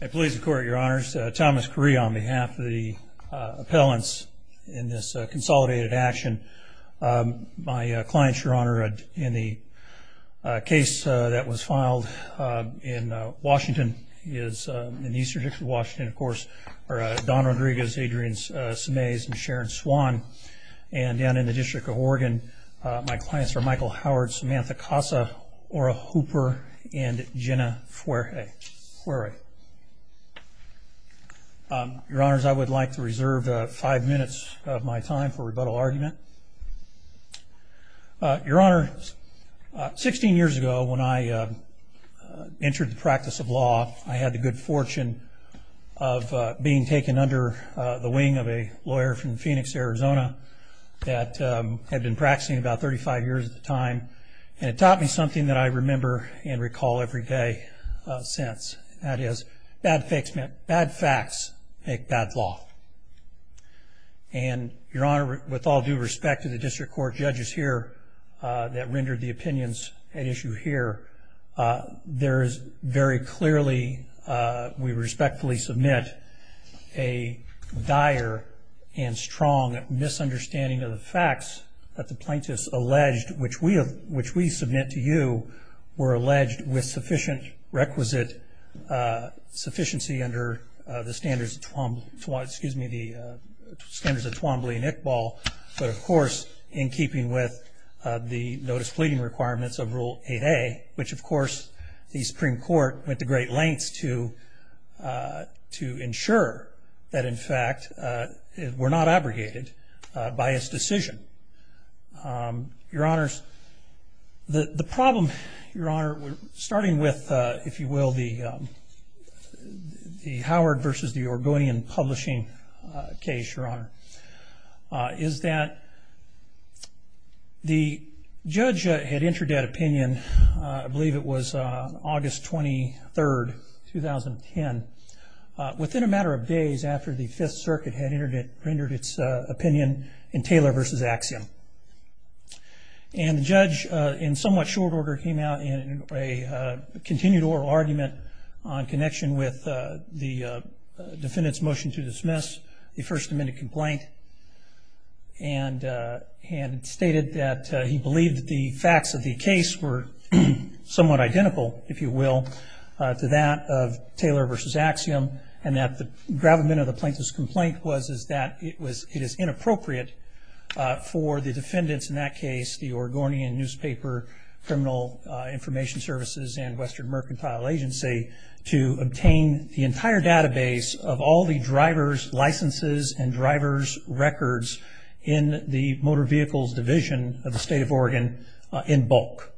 I please the court, your honors, Thomas Curry on behalf of the appellants in this consolidated action. My clients, your honor, in the case that was filed in Washington, in the Eastern District of Washington, of course, are Don Rodriguez, Adrian Semez, and Sharon Swan, and down in the District of Oregon, my clients are Michael Howard, Samantha Casa, Ora Hooper, and Jenna Fuere. Your honors, I would like to reserve five minutes of my time for rebuttal argument. Your honors, 16 years ago when I entered the practice of law, I had the good fortune of being taken under the wing of a lawyer from Phoenix, Arizona, that had been practicing about 35 years at the time, and it taught me something that I remember and recall every day since. That is, bad facts make bad law. And, your honor, with all due respect to the district court judges here that rendered the opinions at issue here, there is very clearly, we respectfully submit, a dire and strong misunderstanding of the facts that the plaintiffs alleged, which we submit to you, were alleged with sufficient requisite sufficiency under the standards of Twombly and Iqbal, but, of course, in keeping with the notice pleading requirements of Rule 8A, which, of course, the Supreme Court went to great lengths to ensure that, in fact, were not abrogated by its decision. Your honors, the problem, starting with, if you will, the Howard versus the Oregonian publishing case, your honor, is that the judge had entered that opinion, I believe it was August 23rd, 2010, within a matter of days after the Fifth Circuit had entered its opinion in Taylor versus Axiom. And the judge, in somewhat short order, came out in a continued oral argument on connection with the defendant's motion to dismiss the First Amendment complaint and stated that he believed that the facts of the case were somewhat identical, if you will, to that of Taylor versus Axiom and that the gravamen of the plaintiff's complaint was that it is inappropriate for the defendants, in that case the Oregonian newspaper, criminal information services, and Western Mercantile Agency, to obtain the entire database of all the driver's licenses and driver's records in the Motor Vehicles Division of the State of Oregon in bulk.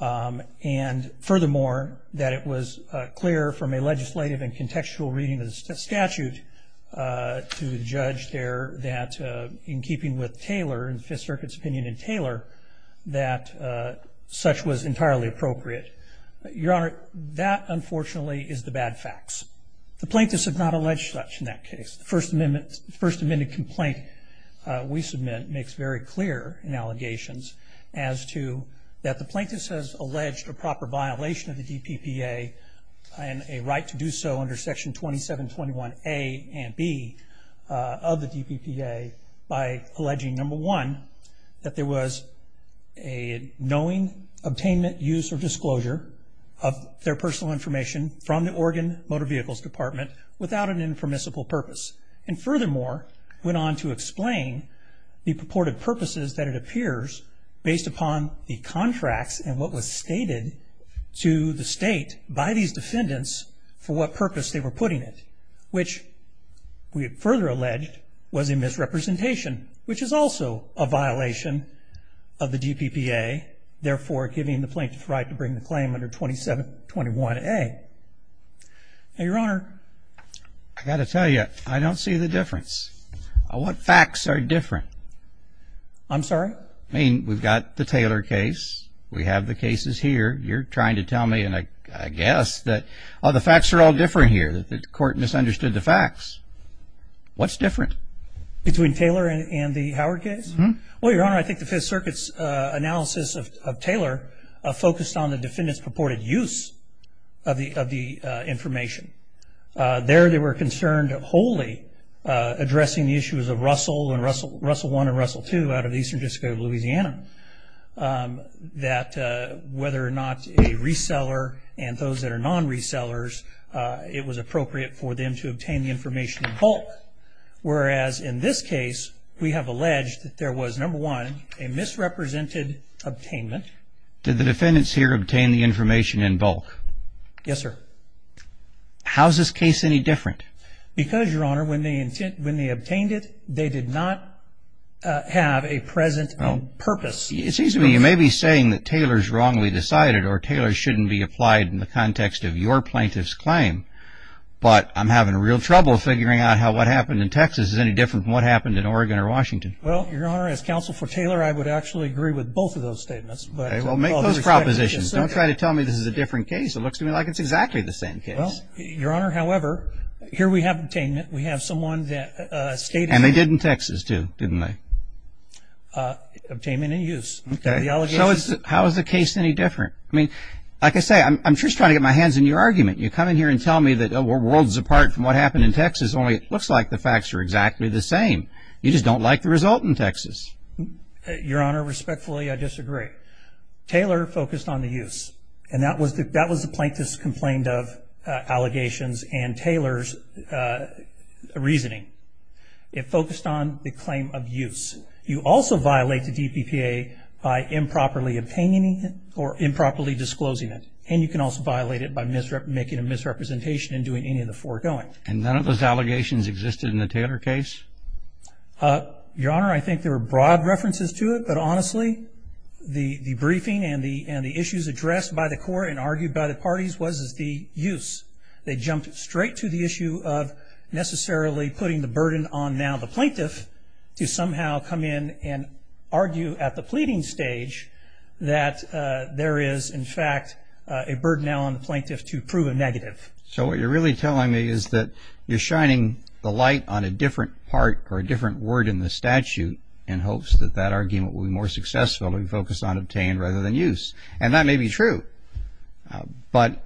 And furthermore, that it was clear from a legislative and contextual reading of the statute to the judge there that, in keeping with Taylor and the Fifth Circuit's opinion in Taylor, that such was entirely appropriate. Your honor, that unfortunately is the bad facts. The plaintiffs have not alleged such in that case. The First Amendment complaint we submit makes very clear in allegations as to that the plaintiffs has alleged a proper violation of the DPPA and a right to do so under Section 2721A and B of the DPPA by alleging, number one, that there was a knowing, obtainment, use, or disclosure of their personal information from the Oregon Motor Vehicles Department without an impermissible purpose. And furthermore, went on to explain the purported purposes that it appears, based upon the contracts and what was stated to the state by these defendants, for what purpose they were putting it, which we further alleged was a misrepresentation, which is also a violation of the DPPA, therefore giving the plaintiff the right to bring the claim under 2721A. Now, your honor. I've got to tell you, I don't see the difference. What facts are different? I'm sorry? I mean, we've got the Taylor case. We have the cases here. You're trying to tell me, and I guess, that the facts are all different here, that the court misunderstood the facts. What's different? Between Taylor and the Howard case? Well, your honor, I think the Fifth Circuit's analysis of Taylor focused on the defendant's purported use of the information. There, they were concerned wholly addressing the issues of Russell, and Russell I and Russell II, out of the Eastern District of Louisiana, that whether or not a reseller and those that are non-resellers, it was appropriate for them to obtain the information in bulk. Whereas in this case, we have alleged that there was, number one, a misrepresented obtainment. Did the defendants here obtain the information in bulk? Yes, sir. How is this case any different? Because, your honor, when they obtained it, they did not have a present purpose. It seems to me you may be saying that Taylor's wrongly decided or Taylor's shouldn't be applied in the context of your plaintiff's claim, but I'm having real trouble figuring out how what happened in Texas is any different from what happened in Oregon or Washington. Well, your honor, as counsel for Taylor, I would actually agree with both of those statements. Well, make those propositions. Don't try to tell me this is a different case. It looks to me like it's exactly the same case. Well, your honor, however, here we have obtainment. We have someone that stated that. And they did in Texas, too, didn't they? Obtainment and use. Okay. So how is the case any different? I mean, like I say, I'm just trying to get my hands in your argument. You come in here and tell me that we're worlds apart from what happened in Texas, only it looks like the facts are exactly the same. You just don't like the result in Texas. Your honor, respectfully, I disagree. Taylor focused on the use, and that was the plaintiff's complaint of allegations and Taylor's reasoning. It focused on the claim of use. You also violate the DPPA by improperly obtaining it or improperly disclosing it. And you can also violate it by making a misrepresentation and doing any of the foregoing. And none of those allegations existed in the Taylor case? Your honor, I think there are broad references to it, but honestly the briefing and the issues addressed by the court and argued by the parties was the use. They jumped straight to the issue of necessarily putting the burden on now the plaintiff to somehow come in and argue at the pleading stage that there is, in fact, a burden now on the plaintiff to prove a negative. So what you're really telling me is that you're shining the light on a different part or a different word in the statute in hopes that that argument will be more successful to focus on obtain rather than use. And that may be true. But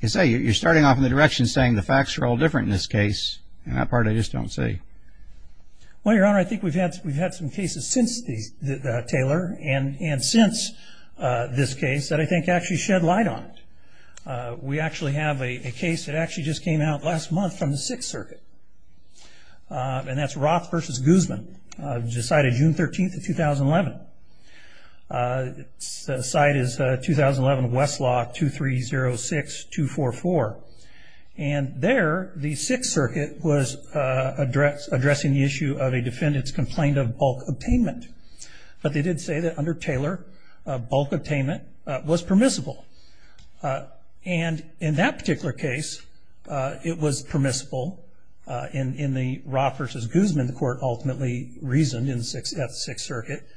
as I say, you're starting off in the direction saying the facts are all different in this case, and that part I just don't see. Well, your honor, I think we've had some cases since Taylor and since this case that I think actually shed light on it. We actually have a case that actually just came out last month from the Sixth Circuit, and that's Roth v. Guzman, decided June 13th of 2011. The site is 2011 Westlaw 2306244. And there the Sixth Circuit was addressing the issue of a defendant's complaint of bulk obtainment. But they did say that under Taylor, bulk obtainment was permissible. And in that particular case, it was permissible in the Roth v. Guzman court ultimately reasoned in the Sixth Circuit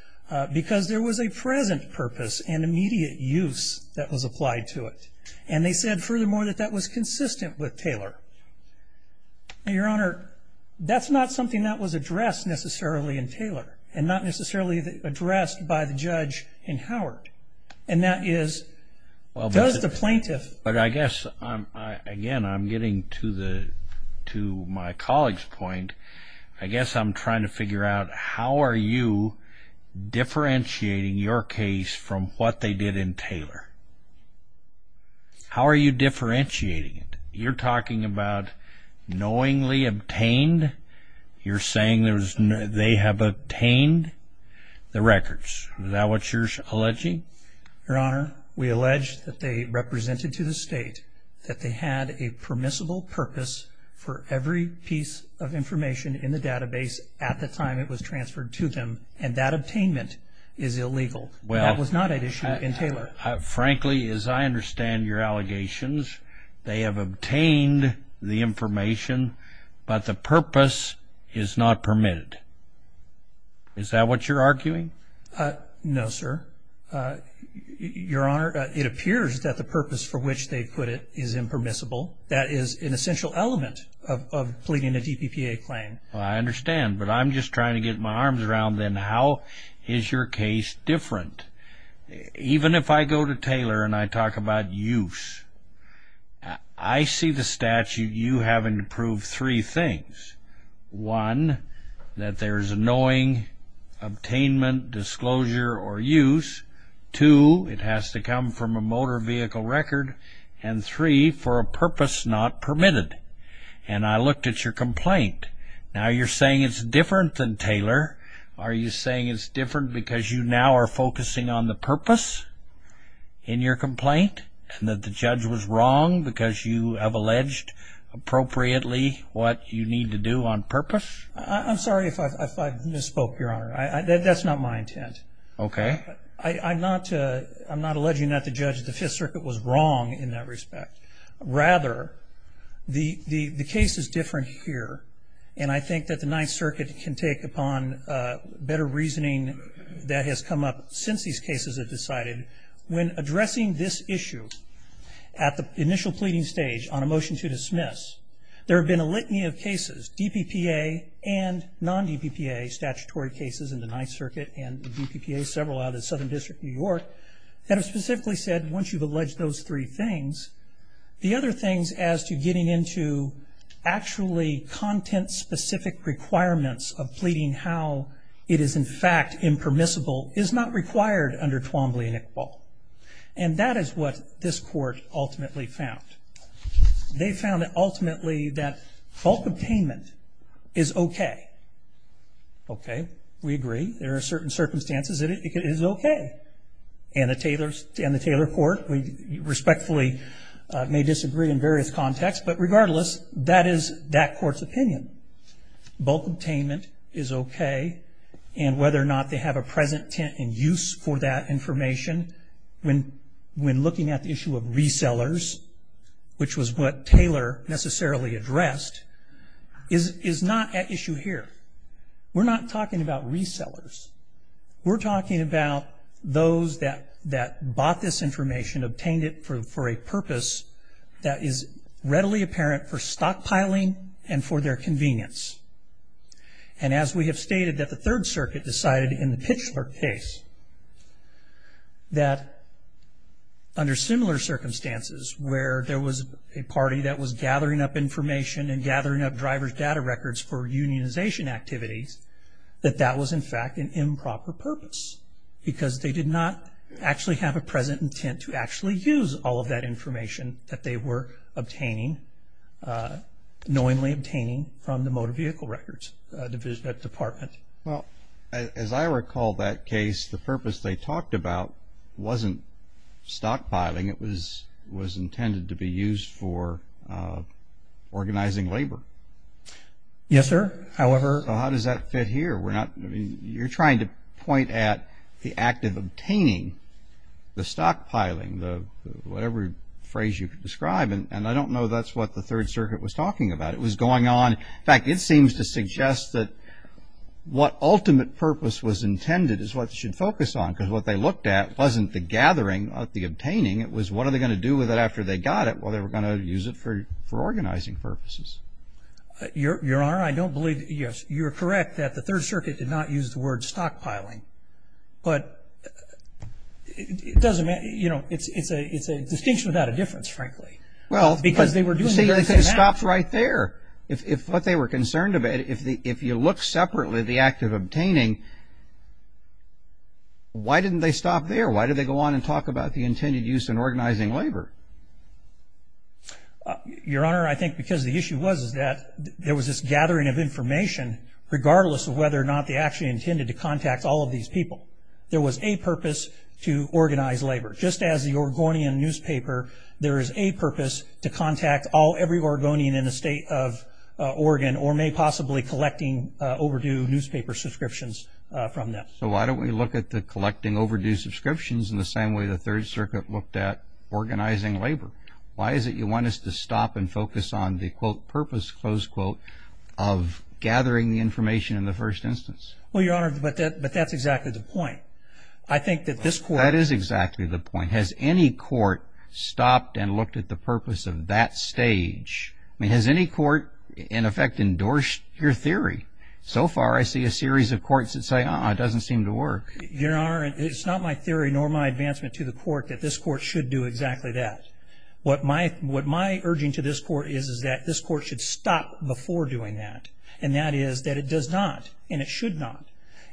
because there was a present purpose and immediate use that was applied to it. And they said furthermore that that was consistent with Taylor. Now, your honor, that's not something that was addressed necessarily in Taylor and not necessarily addressed by the judge in Howard. And that is, does the plaintiff... But I guess, again, I'm getting to my colleague's point. I guess I'm trying to figure out how are you differentiating your case from what they did in Taylor? How are you differentiating it? You're talking about knowingly obtained. You're saying they have obtained the records. Is that what you're alleging? Your honor, we allege that they represented to the state that they had a permissible purpose for every piece of information in the database at the time it was transferred to them. And that obtainment is illegal. That was not at issue in Taylor. Frankly, as I understand your allegations, they have obtained the information, but the purpose is not permitted. Is that what you're arguing? No, sir. Your honor, it appears that the purpose for which they put it is impermissible. That is an essential element of pleading a DPPA claim. I understand, but I'm just trying to get my arms around then how is your case different? Even if I go to Taylor and I talk about use, I see the statute. You have improved three things. One, that there is a knowing, obtainment, disclosure, or use. Two, it has to come from a motor vehicle record. And three, for a purpose not permitted. And I looked at your complaint. Now you're saying it's different than Taylor. Are you saying it's different because you now are focusing on the purpose in your complaint and that the judge was wrong because you have alleged appropriately what you need to do on purpose? I'm sorry if I misspoke, your honor. That's not my intent. Okay. I'm not alleging that the judge of the Fifth Circuit was wrong in that respect. Rather, the case is different here. And I think that the Ninth Circuit can take upon better reasoning that has come up since these cases have decided. When addressing this issue at the initial pleading stage on a motion to dismiss, there have been a litany of cases, DPPA and non-DPPA statutory cases in the Ninth Circuit and the DPPA, several out of the Southern District of New York, that have specifically said once you've alleged those three things, the other things as to getting into actually content-specific requirements of pleading how it is in fact impermissible is not required under Twombly and Iqbal. And that is what this court ultimately found. They found that ultimately that bulk obtainment is okay. Okay. We agree. There are certain circumstances that it is okay. And the Taylor Court respectfully may disagree in various contexts. But regardless, that is that court's opinion. Bulk obtainment is okay. And whether or not they have a present intent in use for that information, when looking at the issue of resellers, which was what Taylor necessarily addressed, is not at issue here. We're not talking about resellers. We're talking about those that bought this information, obtained it for a purpose that is readily apparent for stockpiling and for their convenience. And as we have stated that the Third Circuit decided in the Pitchler case, that under similar circumstances where there was a party that was gathering up information and gathering up driver's data records for unionization activities, that that was, in fact, an improper purpose. Because they did not actually have a present intent to actually use all of that information that they were obtaining, knowingly obtaining from the Motor Vehicle Records Department. Well, as I recall that case, the purpose they talked about wasn't stockpiling. It was intended to be used for organizing labor. Yes, sir. How does that fit here? You're trying to point at the act of obtaining, the stockpiling, whatever phrase you could describe. And I don't know that's what the Third Circuit was talking about. It was going on. In fact, it seems to suggest that what ultimate purpose was intended is what they should focus on. Because what they looked at wasn't the gathering, the obtaining. It was what are they going to do with it after they got it? Well, they were going to use it for organizing purposes. Your Honor, I don't believe that you're correct that the Third Circuit did not use the word stockpiling. But it's a distinction without a difference, frankly. Because they were doing the very same act. Well, you see, they stopped right there. If what they were concerned about, if you look separately at the act of obtaining, why didn't they stop there? Why did they go on and talk about the intended use in organizing labor? Your Honor, I think because the issue was that there was this gathering of information, regardless of whether or not they actually intended to contact all of these people. There was a purpose to organize labor. Just as the Oregonian newspaper, there is a purpose to contact all, every Oregonian in the state of Oregon, or may possibly collecting overdue newspaper subscriptions from them. So why don't we look at the collecting overdue subscriptions in the same way the Third Circuit looked at organizing labor? Why is it you want us to stop and focus on the, quote, purpose, close quote, of gathering the information in the first instance? Well, Your Honor, but that's exactly the point. I think that this court – That is exactly the point. Has any court stopped and looked at the purpose of that stage? I mean, has any court, in effect, endorsed your theory? So far, I see a series of courts that say, uh-uh, it doesn't seem to work. Your Honor, it's not my theory nor my advancement to the court that this court should do exactly that. What my urging to this court is is that this court should stop before doing that, and that is that it does not and it should not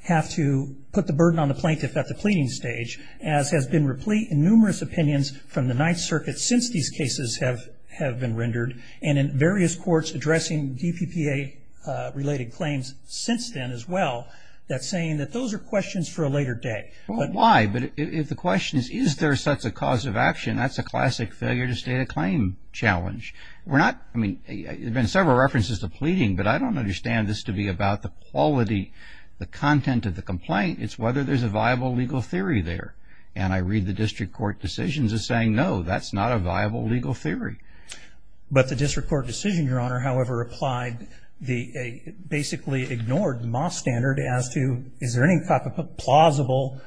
have to put the burden on the plaintiff at the pleading stage, as has been replete in numerous opinions from the Ninth Circuit since these cases have been rendered, and in various courts addressing DPPA-related claims since then as well, that's saying that those are questions for a later day. Well, why? But if the question is, is there such a cause of action, that's a classic failure-to-state-a-claim challenge. We're not – I mean, there have been several references to pleading, but I don't understand this to be about the quality, the content of the complaint. It's whether there's a viable legal theory there, and I read the district court decisions as saying, no, that's not a viable legal theory. But the district court decision, Your Honor, however, basically ignored the Moss standard as to, is there any plausible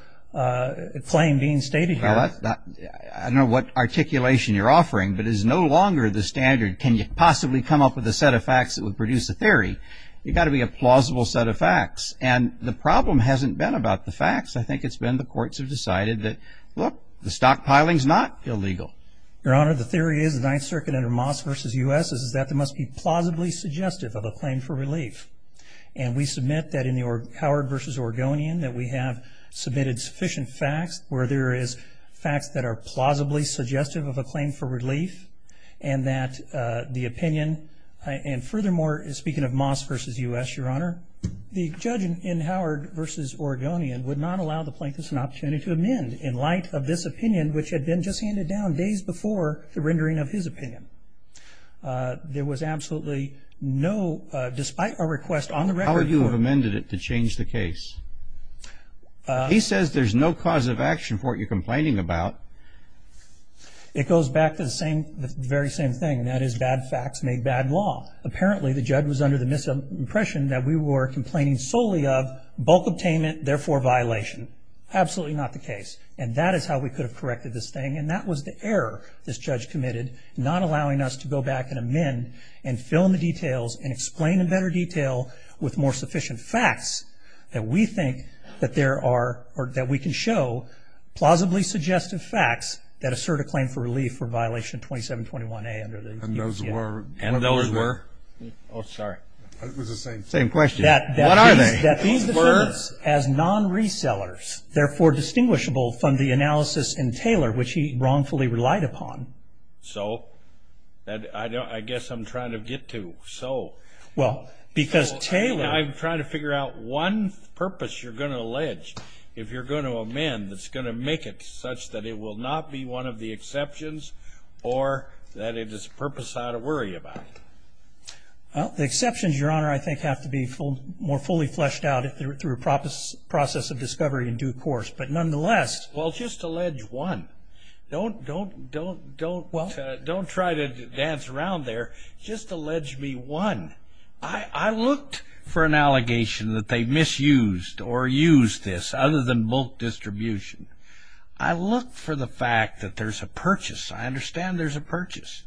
claim being stated here? Well, I don't know what articulation you're offering, but it is no longer the standard, can you possibly come up with a set of facts that would produce a theory. You've got to be a plausible set of facts, and the problem hasn't been about the facts. I think it's been the courts have decided that, look, the stockpiling's not illegal. Your Honor, the theory is, the Ninth Circuit under Moss v. U.S. is that there must be plausibly suggestive of a claim for relief. And we submit that in the Howard v. Oregonian that we have submitted sufficient facts where there is facts that are plausibly suggestive of a claim for relief, and that the opinion – and furthermore, speaking of Moss v. U.S., Your Honor, the judge in Howard v. Oregonian would not allow the plaintiffs an opportunity to amend in light of this opinion which had been just handed down days before the rendering of his opinion. There was absolutely no – despite our request on the record for – How would you have amended it to change the case? He says there's no cause of action for what you're complaining about. It goes back to the same – the very same thing, and that is bad facts made bad law. Apparently, the judge was under the impression that we were complaining solely of And that is how we could have corrected this thing. And that was the error this judge committed, not allowing us to go back and amend and fill in the details and explain in better detail with more sufficient facts that we think that there are – or that we can show plausibly suggestive facts that assert a claim for relief for violation 2721A under the – And those were – And those were – Oh, sorry. It was the same – Same question. What are they? As non-resellers, therefore distinguishable from the analysis in Taylor which he wrongfully relied upon. So? I guess I'm trying to get to so. Well, because Taylor – I'm trying to figure out one purpose you're going to allege if you're going to amend that's going to make it such that it will not be one of the exceptions or that it is a purpose I ought to worry about. The exceptions, Your Honor, I think have to be more fully fleshed out through a process of discovery in due course. But nonetheless – Well, just allege one. Don't try to dance around there. Just allege me one. I looked for an allegation that they misused or used this other than bulk distribution. I looked for the fact that there's a purchase. I understand there's a purchase.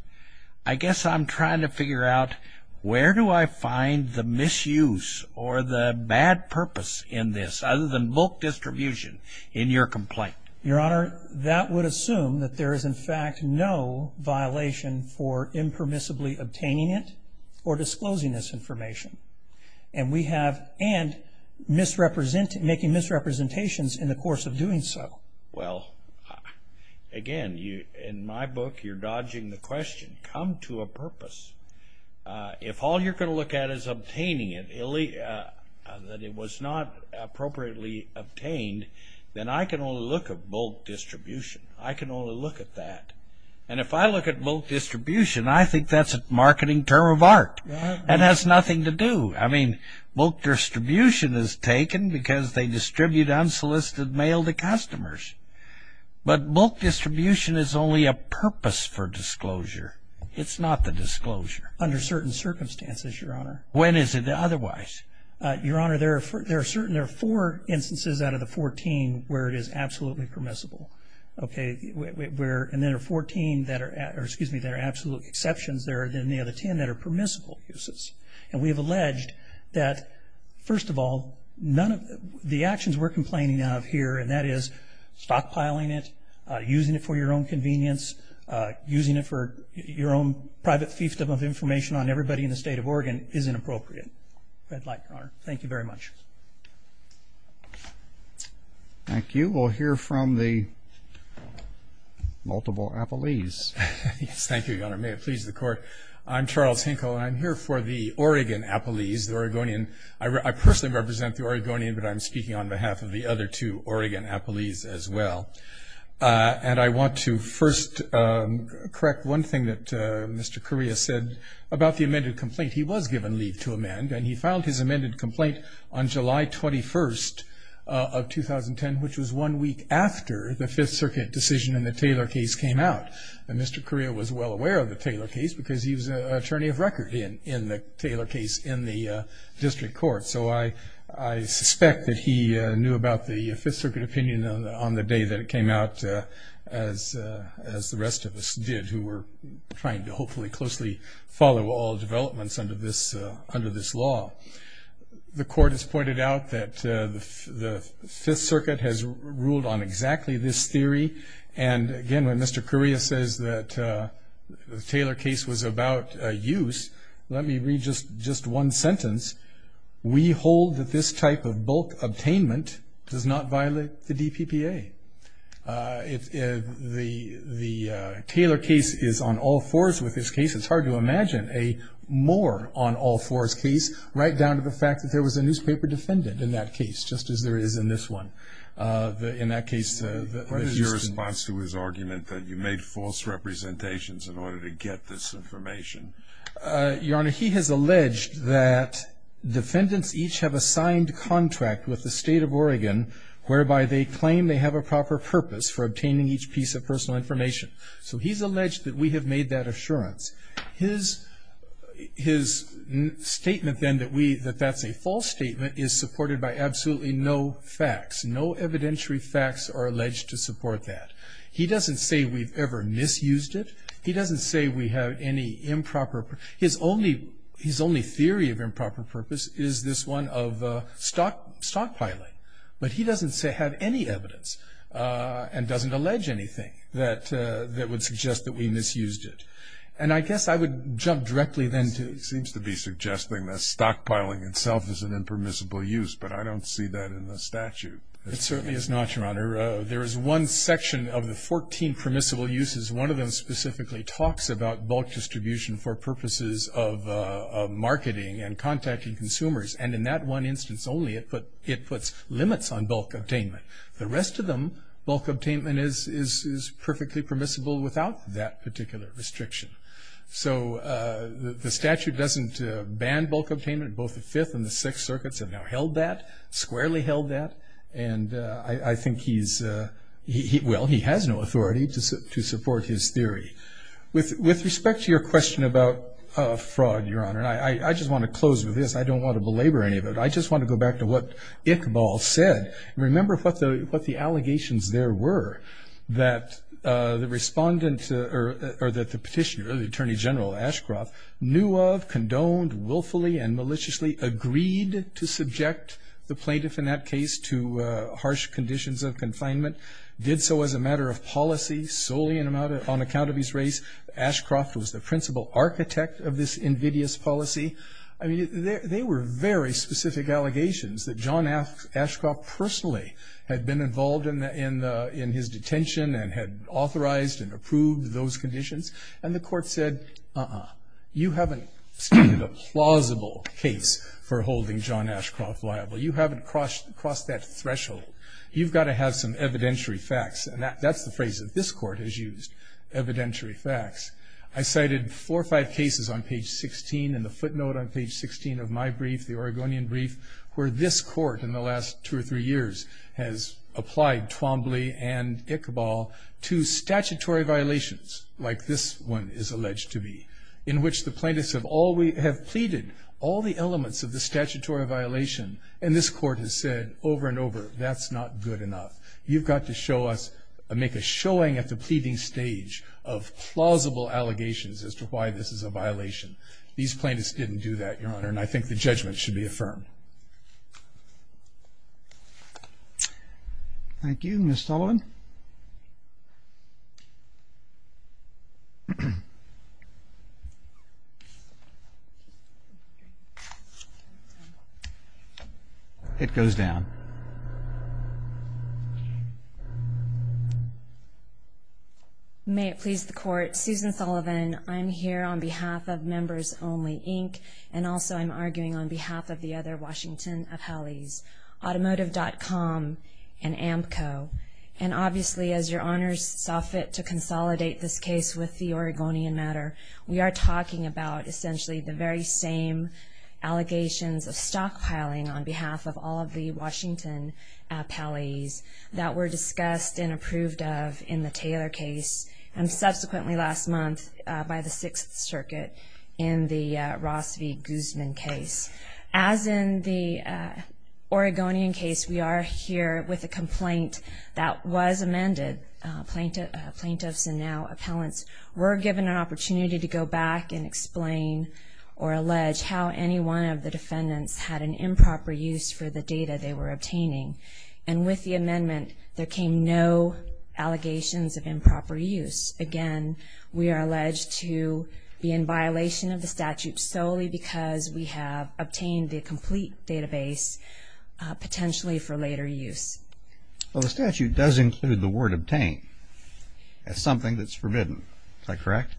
I guess I'm trying to figure out where do I find the misuse or the bad purpose in this other than bulk distribution in your complaint. Your Honor, that would assume that there is, in fact, no violation for impermissibly obtaining it or disclosing this information. And we have – and making misrepresentations in the course of doing so. Well, again, in my book, you're dodging the question. Come to a purpose. If all you're going to look at is obtaining it, that it was not appropriately obtained, then I can only look at bulk distribution. I can only look at that. And if I look at bulk distribution, I think that's a marketing term of art. It has nothing to do – I mean, bulk distribution is taken because they distribute unsolicited mail to customers. But bulk distribution is only a purpose for disclosure. It's not the disclosure. Under certain circumstances, Your Honor. When is it otherwise? Your Honor, there are certain – there are four instances out of the 14 where it is absolutely permissible. Okay. And there are 14 that are – or, excuse me, there are absolute exceptions. There are then the other 10 that are permissible uses. And we have alleged that, first of all, none of the actions we're complaining of here, and that is stockpiling it, using it for your own convenience, using it for your own private fiefdom of information on everybody in the State of Oregon, is inappropriate. Red light, Your Honor. Thank you very much. Thank you. We'll hear from the multiple appellees. Yes, thank you, Your Honor. May it please the Court. I'm Charles Hinkle, and I'm here for the Oregon appellees, the Oregonian. I personally represent the Oregonian, but I'm speaking on behalf of the other two Oregon appellees as well. And I want to first correct one thing that Mr. Correa said about the amended complaint. He was given leave to amend, and he filed his amended complaint on July 21st of 2010, which was one week after the Fifth Circuit decision in the Taylor case came out. And Mr. Correa was well aware of the Taylor case, because he was an attorney of record in the Taylor case in the district court. So I suspect that he knew about the Fifth Circuit opinion on the day that it came out, as the rest of us did, who were trying to hopefully closely follow all developments under this law. The Court has pointed out that the Fifth Circuit has ruled on exactly this theory. And, again, when Mr. Correa says that the Taylor case was about use, let me read just one sentence. We hold that this type of bulk obtainment does not violate the DPPA. The Taylor case is on all fours with this case. It's hard to imagine a more on all fours case, right down to the fact that there was a newspaper defendant in that case, just as there is in this one. What is your response to his argument that you made false representations in order to get this information? Your Honor, he has alleged that defendants each have a signed contract with the state of Oregon whereby they claim they have a proper purpose for obtaining each piece of personal information. So he's alleged that we have made that assurance. His statement then that that's a false statement is supported by absolutely no facts, no evidentiary facts are alleged to support that. He doesn't say we've ever misused it. He doesn't say we have any improper. His only theory of improper purpose is this one of stockpiling. But he doesn't have any evidence and doesn't allege anything that would suggest that we misused it. And I guess I would jump directly then to. He seems to be suggesting that stockpiling itself is an impermissible use, but I don't see that in the statute. It certainly is not, Your Honor. There is one section of the 14 permissible uses. One of them specifically talks about bulk distribution for purposes of marketing and contacting consumers. And in that one instance only, it puts limits on bulk obtainment. The rest of them, bulk obtainment is perfectly permissible without that particular restriction. So the statute doesn't ban bulk obtainment. Both the Fifth and the Sixth Circuits have now held that, squarely held that. And I think he's, well, he has no authority to support his theory. With respect to your question about fraud, Your Honor, I just want to close with this. I don't want to belabor any of it. I just want to go back to what Iqbal said. Remember what the allegations there were that the respondent or that the petitioner, the Attorney General Ashcroft, knew of, condoned willfully and maliciously, agreed to subject the plaintiff in that case to harsh conditions of confinement, did so as a matter of policy solely on account of his race. Ashcroft was the principal architect of this invidious policy. I mean, they were very specific allegations that John Ashcroft personally had been involved in his detention and had authorized and approved those conditions. And the court said, uh-uh. You haven't stated a plausible case for holding John Ashcroft liable. You haven't crossed that threshold. You've got to have some evidentiary facts. And that's the phrase that this court has used, evidentiary facts. I cited four or five cases on page 16 in the footnote on page 16 of my brief, the Oregonian brief, where this court in the last two or three years has applied Twombly and Ichabal to statutory violations, like this one is alleged to be, in which the plaintiffs have pleaded all the elements of the statutory violation. And this court has said over and over, that's not good enough. You've got to make a showing at the pleading stage of plausible allegations as to why this is a violation. These plaintiffs didn't do that, Your Honor, and I think the judgment should be affirmed. Thank you. Thank you. Ms. Sullivan. It goes down. May it please the Court, Susan Sullivan, I'm here on behalf of Members Only, Inc., and also I'm arguing on behalf of the other Washington appellees, Automotive.com and Amco. And obviously, as Your Honors saw fit to consolidate this case with the Oregonian matter, we are talking about essentially the very same allegations of stockpiling on behalf of all of the Washington appellees that were discussed and approved of in the Taylor case, and subsequently last month by the Sixth Circuit in the Ross v. Guzman case. As in the Oregonian case, we are here with a complaint that was amended. Plaintiffs and now appellants were given an opportunity to go back and explain or allege how any one of the defendants had an improper use for the data they were obtaining. And with the amendment, there came no allegations of improper use. Again, we are alleged to be in violation of the statute solely because we have obtained the complete database potentially for later use. Well, the statute does include the word obtained. That's something that's forbidden. Is that correct?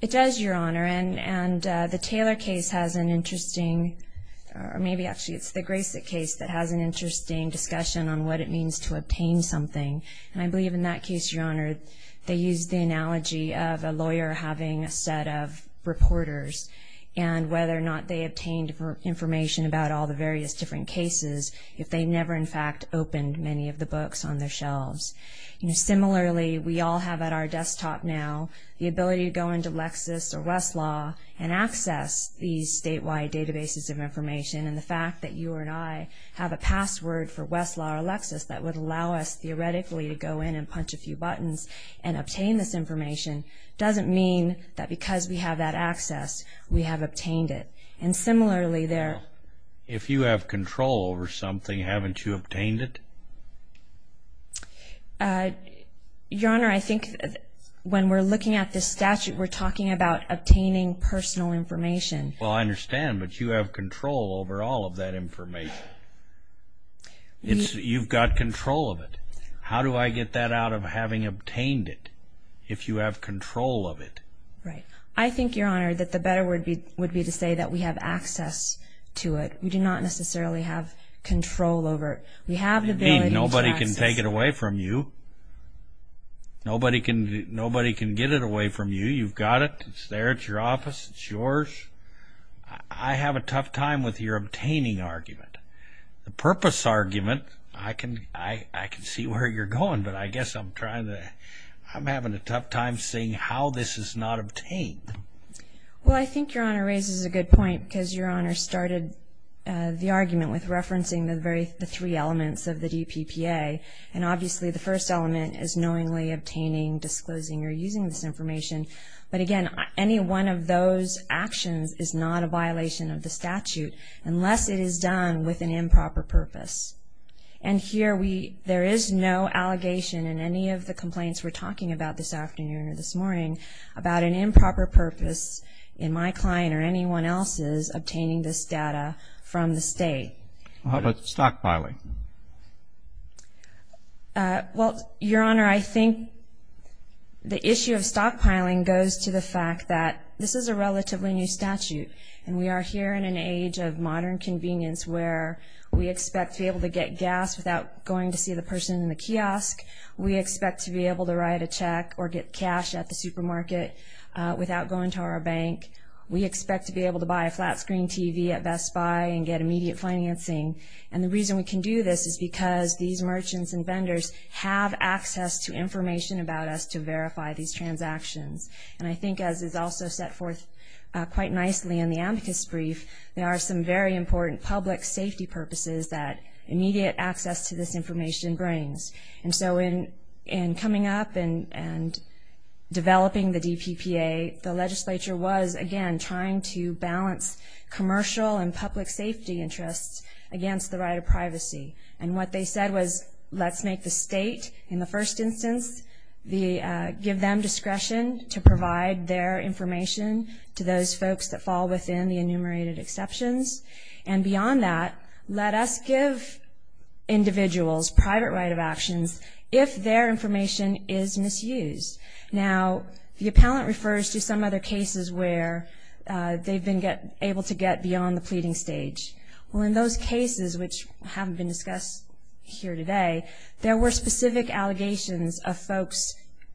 It does, Your Honor, and the Taylor case has an interesting, or maybe actually it's the Grasek case that has an interesting discussion on what it means to obtain something. And I believe in that case, Your Honor, they used the analogy of a lawyer having a set of reporters and whether or not they obtained information about all the various different cases if they never in fact opened many of the books on their shelves. Similarly, we all have at our desktop now the ability to go into Lexis or Westlaw and access these statewide databases of information. And the fact that you and I have a password for Westlaw or Lexis that would allow us, theoretically, to go in and punch a few buttons and obtain this information doesn't mean that because we have that access, we have obtained it. And similarly, there – Well, if you have control over something, haven't you obtained it? Your Honor, I think when we're looking at this statute, we're talking about obtaining personal information. Well, I understand, but you have control over all of that information. You've got control of it. How do I get that out of having obtained it if you have control of it? Right. I think, Your Honor, that the better word would be to say that we have access to it. We do not necessarily have control over it. We have the ability to access it. I mean, nobody can take it away from you. Nobody can get it away from you. You've got it. It's there. It's your office. It's yours. I have a tough time with your obtaining argument. The purpose argument, I can see where you're going, but I guess I'm trying to – I'm having a tough time seeing how this is not obtained. Well, I think Your Honor raises a good point because Your Honor started the argument with referencing the three elements of the DPPA, and obviously the first element is knowingly obtaining, disclosing, or using this information. But, again, any one of those actions is not a violation of the statute unless it is done with an improper purpose. And here there is no allegation in any of the complaints we're talking about this afternoon or this morning about an improper purpose in my client or anyone else's obtaining this data from the state. How about stockpiling? Well, Your Honor, I think the issue of stockpiling goes to the fact that this is a relatively new statute, and we are here in an age of modern convenience where we expect to be able to get gas without going to see the person in the kiosk. We expect to be able to write a check or get cash at the supermarket without going to our bank. We expect to be able to buy a flat-screen TV at Best Buy and get immediate financing. And the reason we can do this is because these merchants and vendors have access to information about us to verify these transactions. And I think as is also set forth quite nicely in the amicus brief, there are some very important public safety purposes that immediate access to this information brings. And so in coming up and developing the DPPA, the legislature was, again, trying to balance commercial and public safety interests against the right of privacy. And what they said was let's make the state in the first instance give them discretion to provide their information to those folks that fall within the enumerated exceptions. And beyond that, let us give individuals private right of actions if their information is misused. Now, the appellant refers to some other cases where they've been able to get beyond the pleading stage. Well, in those cases, which haven't been discussed here today, there were specific allegations of folks'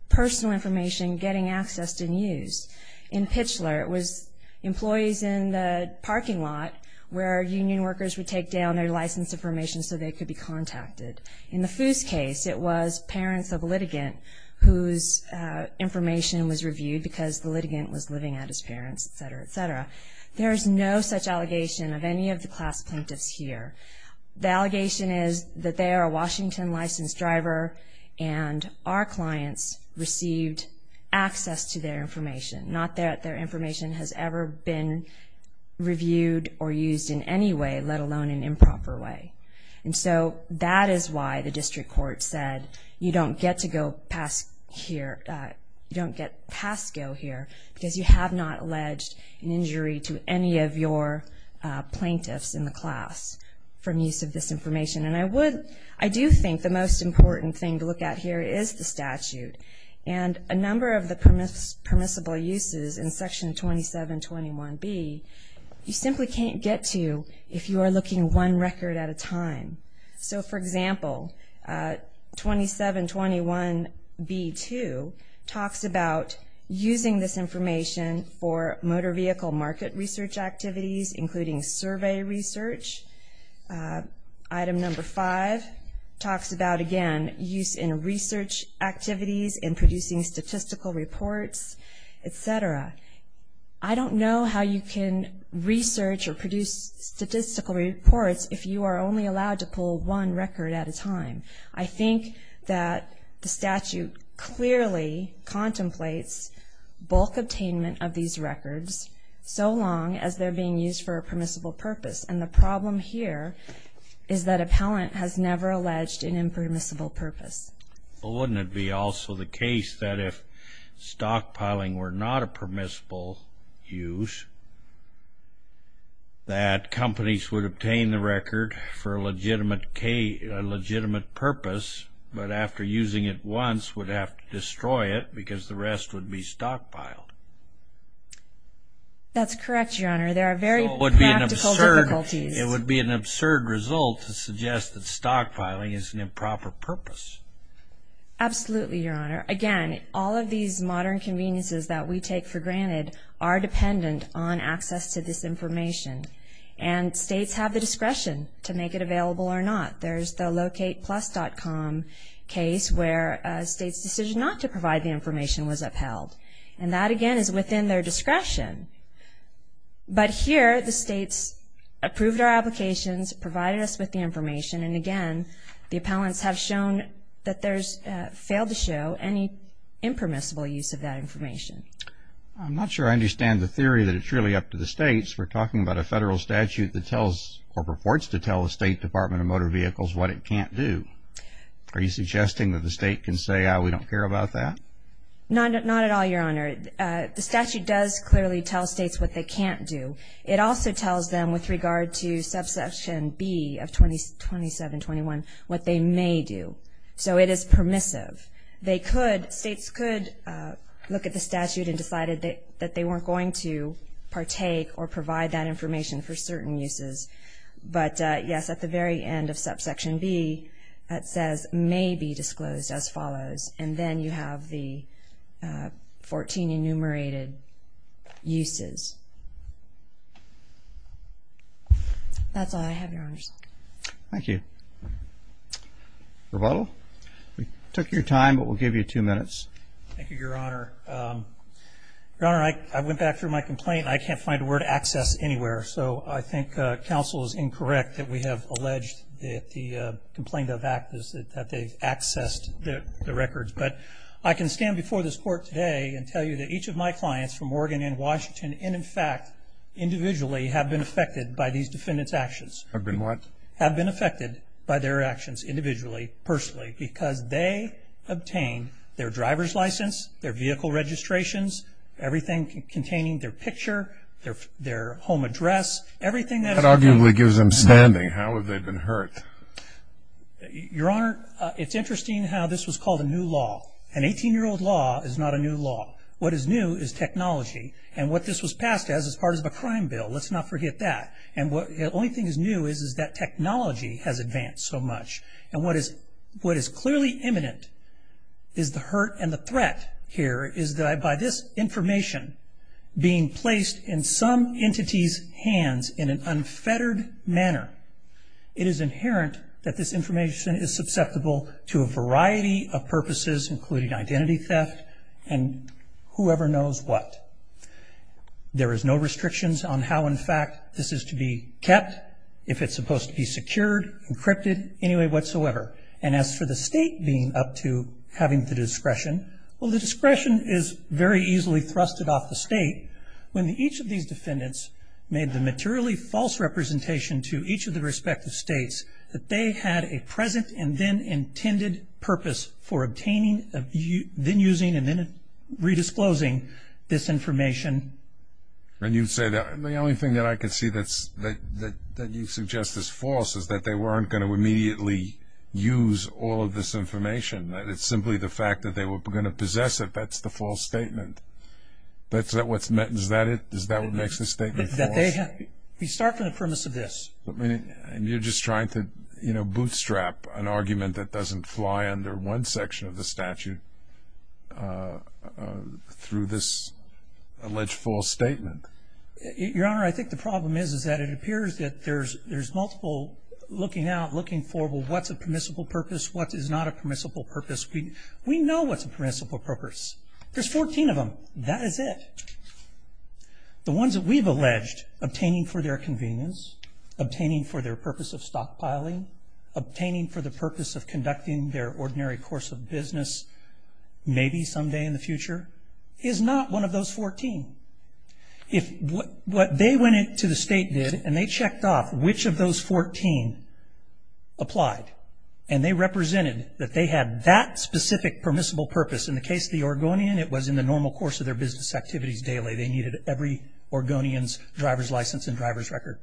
personal information getting accessed and used. In Pitchler, it was employees in the parking lot where union workers would take down their license information so they could be contacted. In the Foos case, it was parents of a litigant whose information was reviewed because the litigant was living at his parents, et cetera, et cetera. There is no such allegation of any of the class plaintiffs here. The allegation is that they are a Washington licensed driver and our clients received access to their information, not that their information has ever been reviewed or used in any way, let alone in improper way. And so that is why the district court said you don't get to go past here, you don't get past go here because you have not alleged an injury to any of your plaintiffs in the class from use of this information. And I do think the most important thing to look at here is the statute and a number of the permissible uses in Section 2721B you simply can't get to if you are looking one record at a time. So, for example, 2721B2 talks about using this information for motor vehicle market research activities, including survey research. Item number five talks about, again, use in research activities and producing statistical reports, et cetera. I don't know how you can research or produce statistical reports if you are only allowed to pull one record at a time. I think that the statute clearly contemplates bulk attainment of these records so long as they're being used for a permissible purpose. And the problem here is that appellant has never alleged an impermissible purpose. Well, wouldn't it be also the case that if stockpiling were not a permissible use that companies would obtain the record for a legitimate purpose but after using it once would have to destroy it because the rest would be stockpiled? That's correct, Your Honor. There are very practical difficulties. So it would be an absurd result to suggest that stockpiling is an improper purpose. Absolutely, Your Honor. Again, all of these modern conveniences that we take for granted are dependent on access to this information. And states have the discretion to make it available or not. There's the LocatePlus.com case where a state's decision not to provide the information was upheld. And that, again, is within their discretion. But here the states approved our applications, provided us with the information, and, again, the appellants have shown that there's failed to show any impermissible use of that information. I'm not sure I understand the theory that it's really up to the states. We're talking about a federal statute that tells or purports to tell the State Department of Motor Vehicles what it can't do. Are you suggesting that the state can say, ah, we don't care about that? Not at all, Your Honor. The statute does clearly tell states what they can't do. It also tells them with regard to subsection B of 2721 what they may do. So it is permissive. States could look at the statute and decide that they weren't going to partake or provide that information for certain uses. But, yes, at the very end of subsection B it says may be disclosed as follows. And then you have the 14 enumerated uses. That's all I have, Your Honors. Thank you. Rebuttal? We took your time, but we'll give you two minutes. Thank you, Your Honor. Your Honor, I went back through my complaint and I can't find the word access anywhere. So I think counsel is incorrect that we have alleged that the complaint of act is that they've accessed the records. But I can stand before this Court today and tell you that each of my clients from Oregon and Washington, and, in fact, individually, have been affected by these defendants' actions. Have been what? Have been affected by their actions individually, personally, because they obtained their driver's license, their vehicle registrations, everything containing their picture, their home address. That arguably gives them standing. How have they been hurt? Your Honor, it's interesting how this was called a new law. An 18-year-old law is not a new law. What is new is technology. And what this was passed as is part of a crime bill. Let's not forget that. And the only thing that's new is that technology has advanced so much. And what is clearly imminent is the hurt and the threat here is that by this information being placed in some entity's hands in an unfettered manner, it is inherent that this information is susceptible to a variety of purposes, including identity theft and whoever knows what. There is no restrictions on how, in fact, this is to be kept. If it's supposed to be secured, encrypted, any way whatsoever. And as for the state being up to having the discretion, well, the discretion is very easily thrusted off the state. When each of these defendants made the materially false representation to each of the respective states, that they had a present and then intended purpose for obtaining, then using, and then redisclosing this information. And you say that the only thing that I can see that you suggest is false is that they weren't going to immediately use all of this information. It's simply the fact that they were going to possess it. That's the false statement. That's what's meant. Is that it? Is that what makes this statement false? We start from the premise of this. And you're just trying to, you know, Your Honor, I think the problem is that it appears that there's multiple looking out, looking for what's a permissible purpose, what is not a permissible purpose. We know what's a permissible purpose. There's 14 of them. That is it. The ones that we've alleged obtaining for their convenience, obtaining for their purpose of stockpiling, obtaining for the purpose of conducting their ordinary course of business, maybe someday in the future, is not one of those 14. What they went into the state did, and they checked off which of those 14 applied, and they represented that they had that specific permissible purpose. In the case of the Oregonian, it was in the normal course of their business activities daily. They needed every Oregonian's driver's license and driver's record.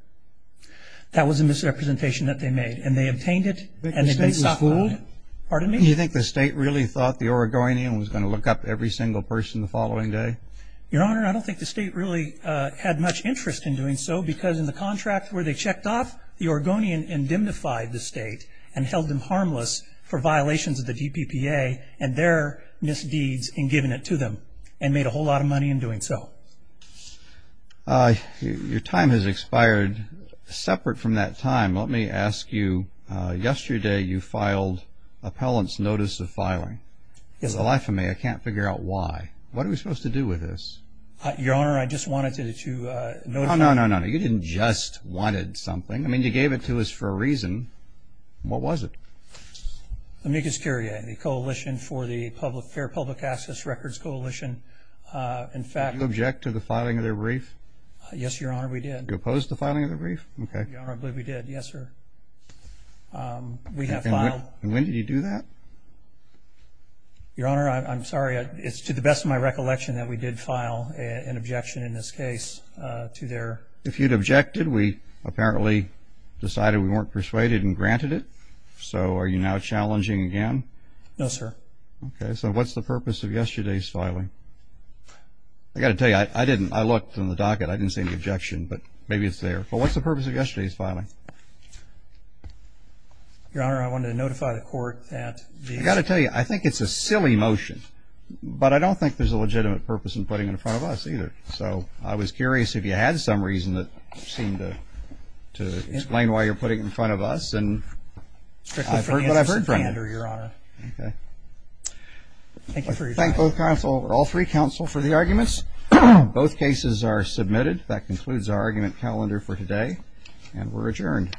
That was a misrepresentation that they made. And they obtained it, and they did stockpile it. Pardon me? Do you think the state really thought the Oregonian was going to look up every single person the following day? Your Honor, I don't think the state really had much interest in doing so, because in the contract where they checked off, the Oregonian indemnified the state and held them harmless for violations of the DPPA and their misdeeds in giving it to them and made a whole lot of money in doing so. Your time has expired. And separate from that time, let me ask you, yesterday you filed appellant's notice of filing. It's the life of me. I can't figure out why. What are we supposed to do with this? Your Honor, I just wanted to notify you. No, no, no, no, no. You didn't just wanted something. I mean, you gave it to us for a reason. What was it? Amicus Curiae, the Coalition for the Fair Public Access Records Coalition. In fact, Did you object to the filing of their brief? Yes, Your Honor, we did. Did you oppose the filing of their brief? Your Honor, I believe we did. Yes, sir. We have filed. And when did you do that? Your Honor, I'm sorry. It's to the best of my recollection that we did file an objection in this case to their. If you'd objected, we apparently decided we weren't persuaded and granted it. So are you now challenging again? No, sir. Okay. So what's the purpose of yesterday's filing? I've got to tell you, I didn't. I looked in the docket. I didn't see any objection. But maybe it's there. But what's the purpose of yesterday's filing? Your Honor, I wanted to notify the court that the. I've got to tell you, I think it's a silly motion. But I don't think there's a legitimate purpose in putting it in front of us either. So I was curious if you had some reason that seemed to explain why you're putting it in front of us. And I've heard what I've heard from you. Okay. Thank you for your time. We thank all three counsel for the arguments. Both cases are submitted. That concludes our argument calendar for today. And we're adjourned.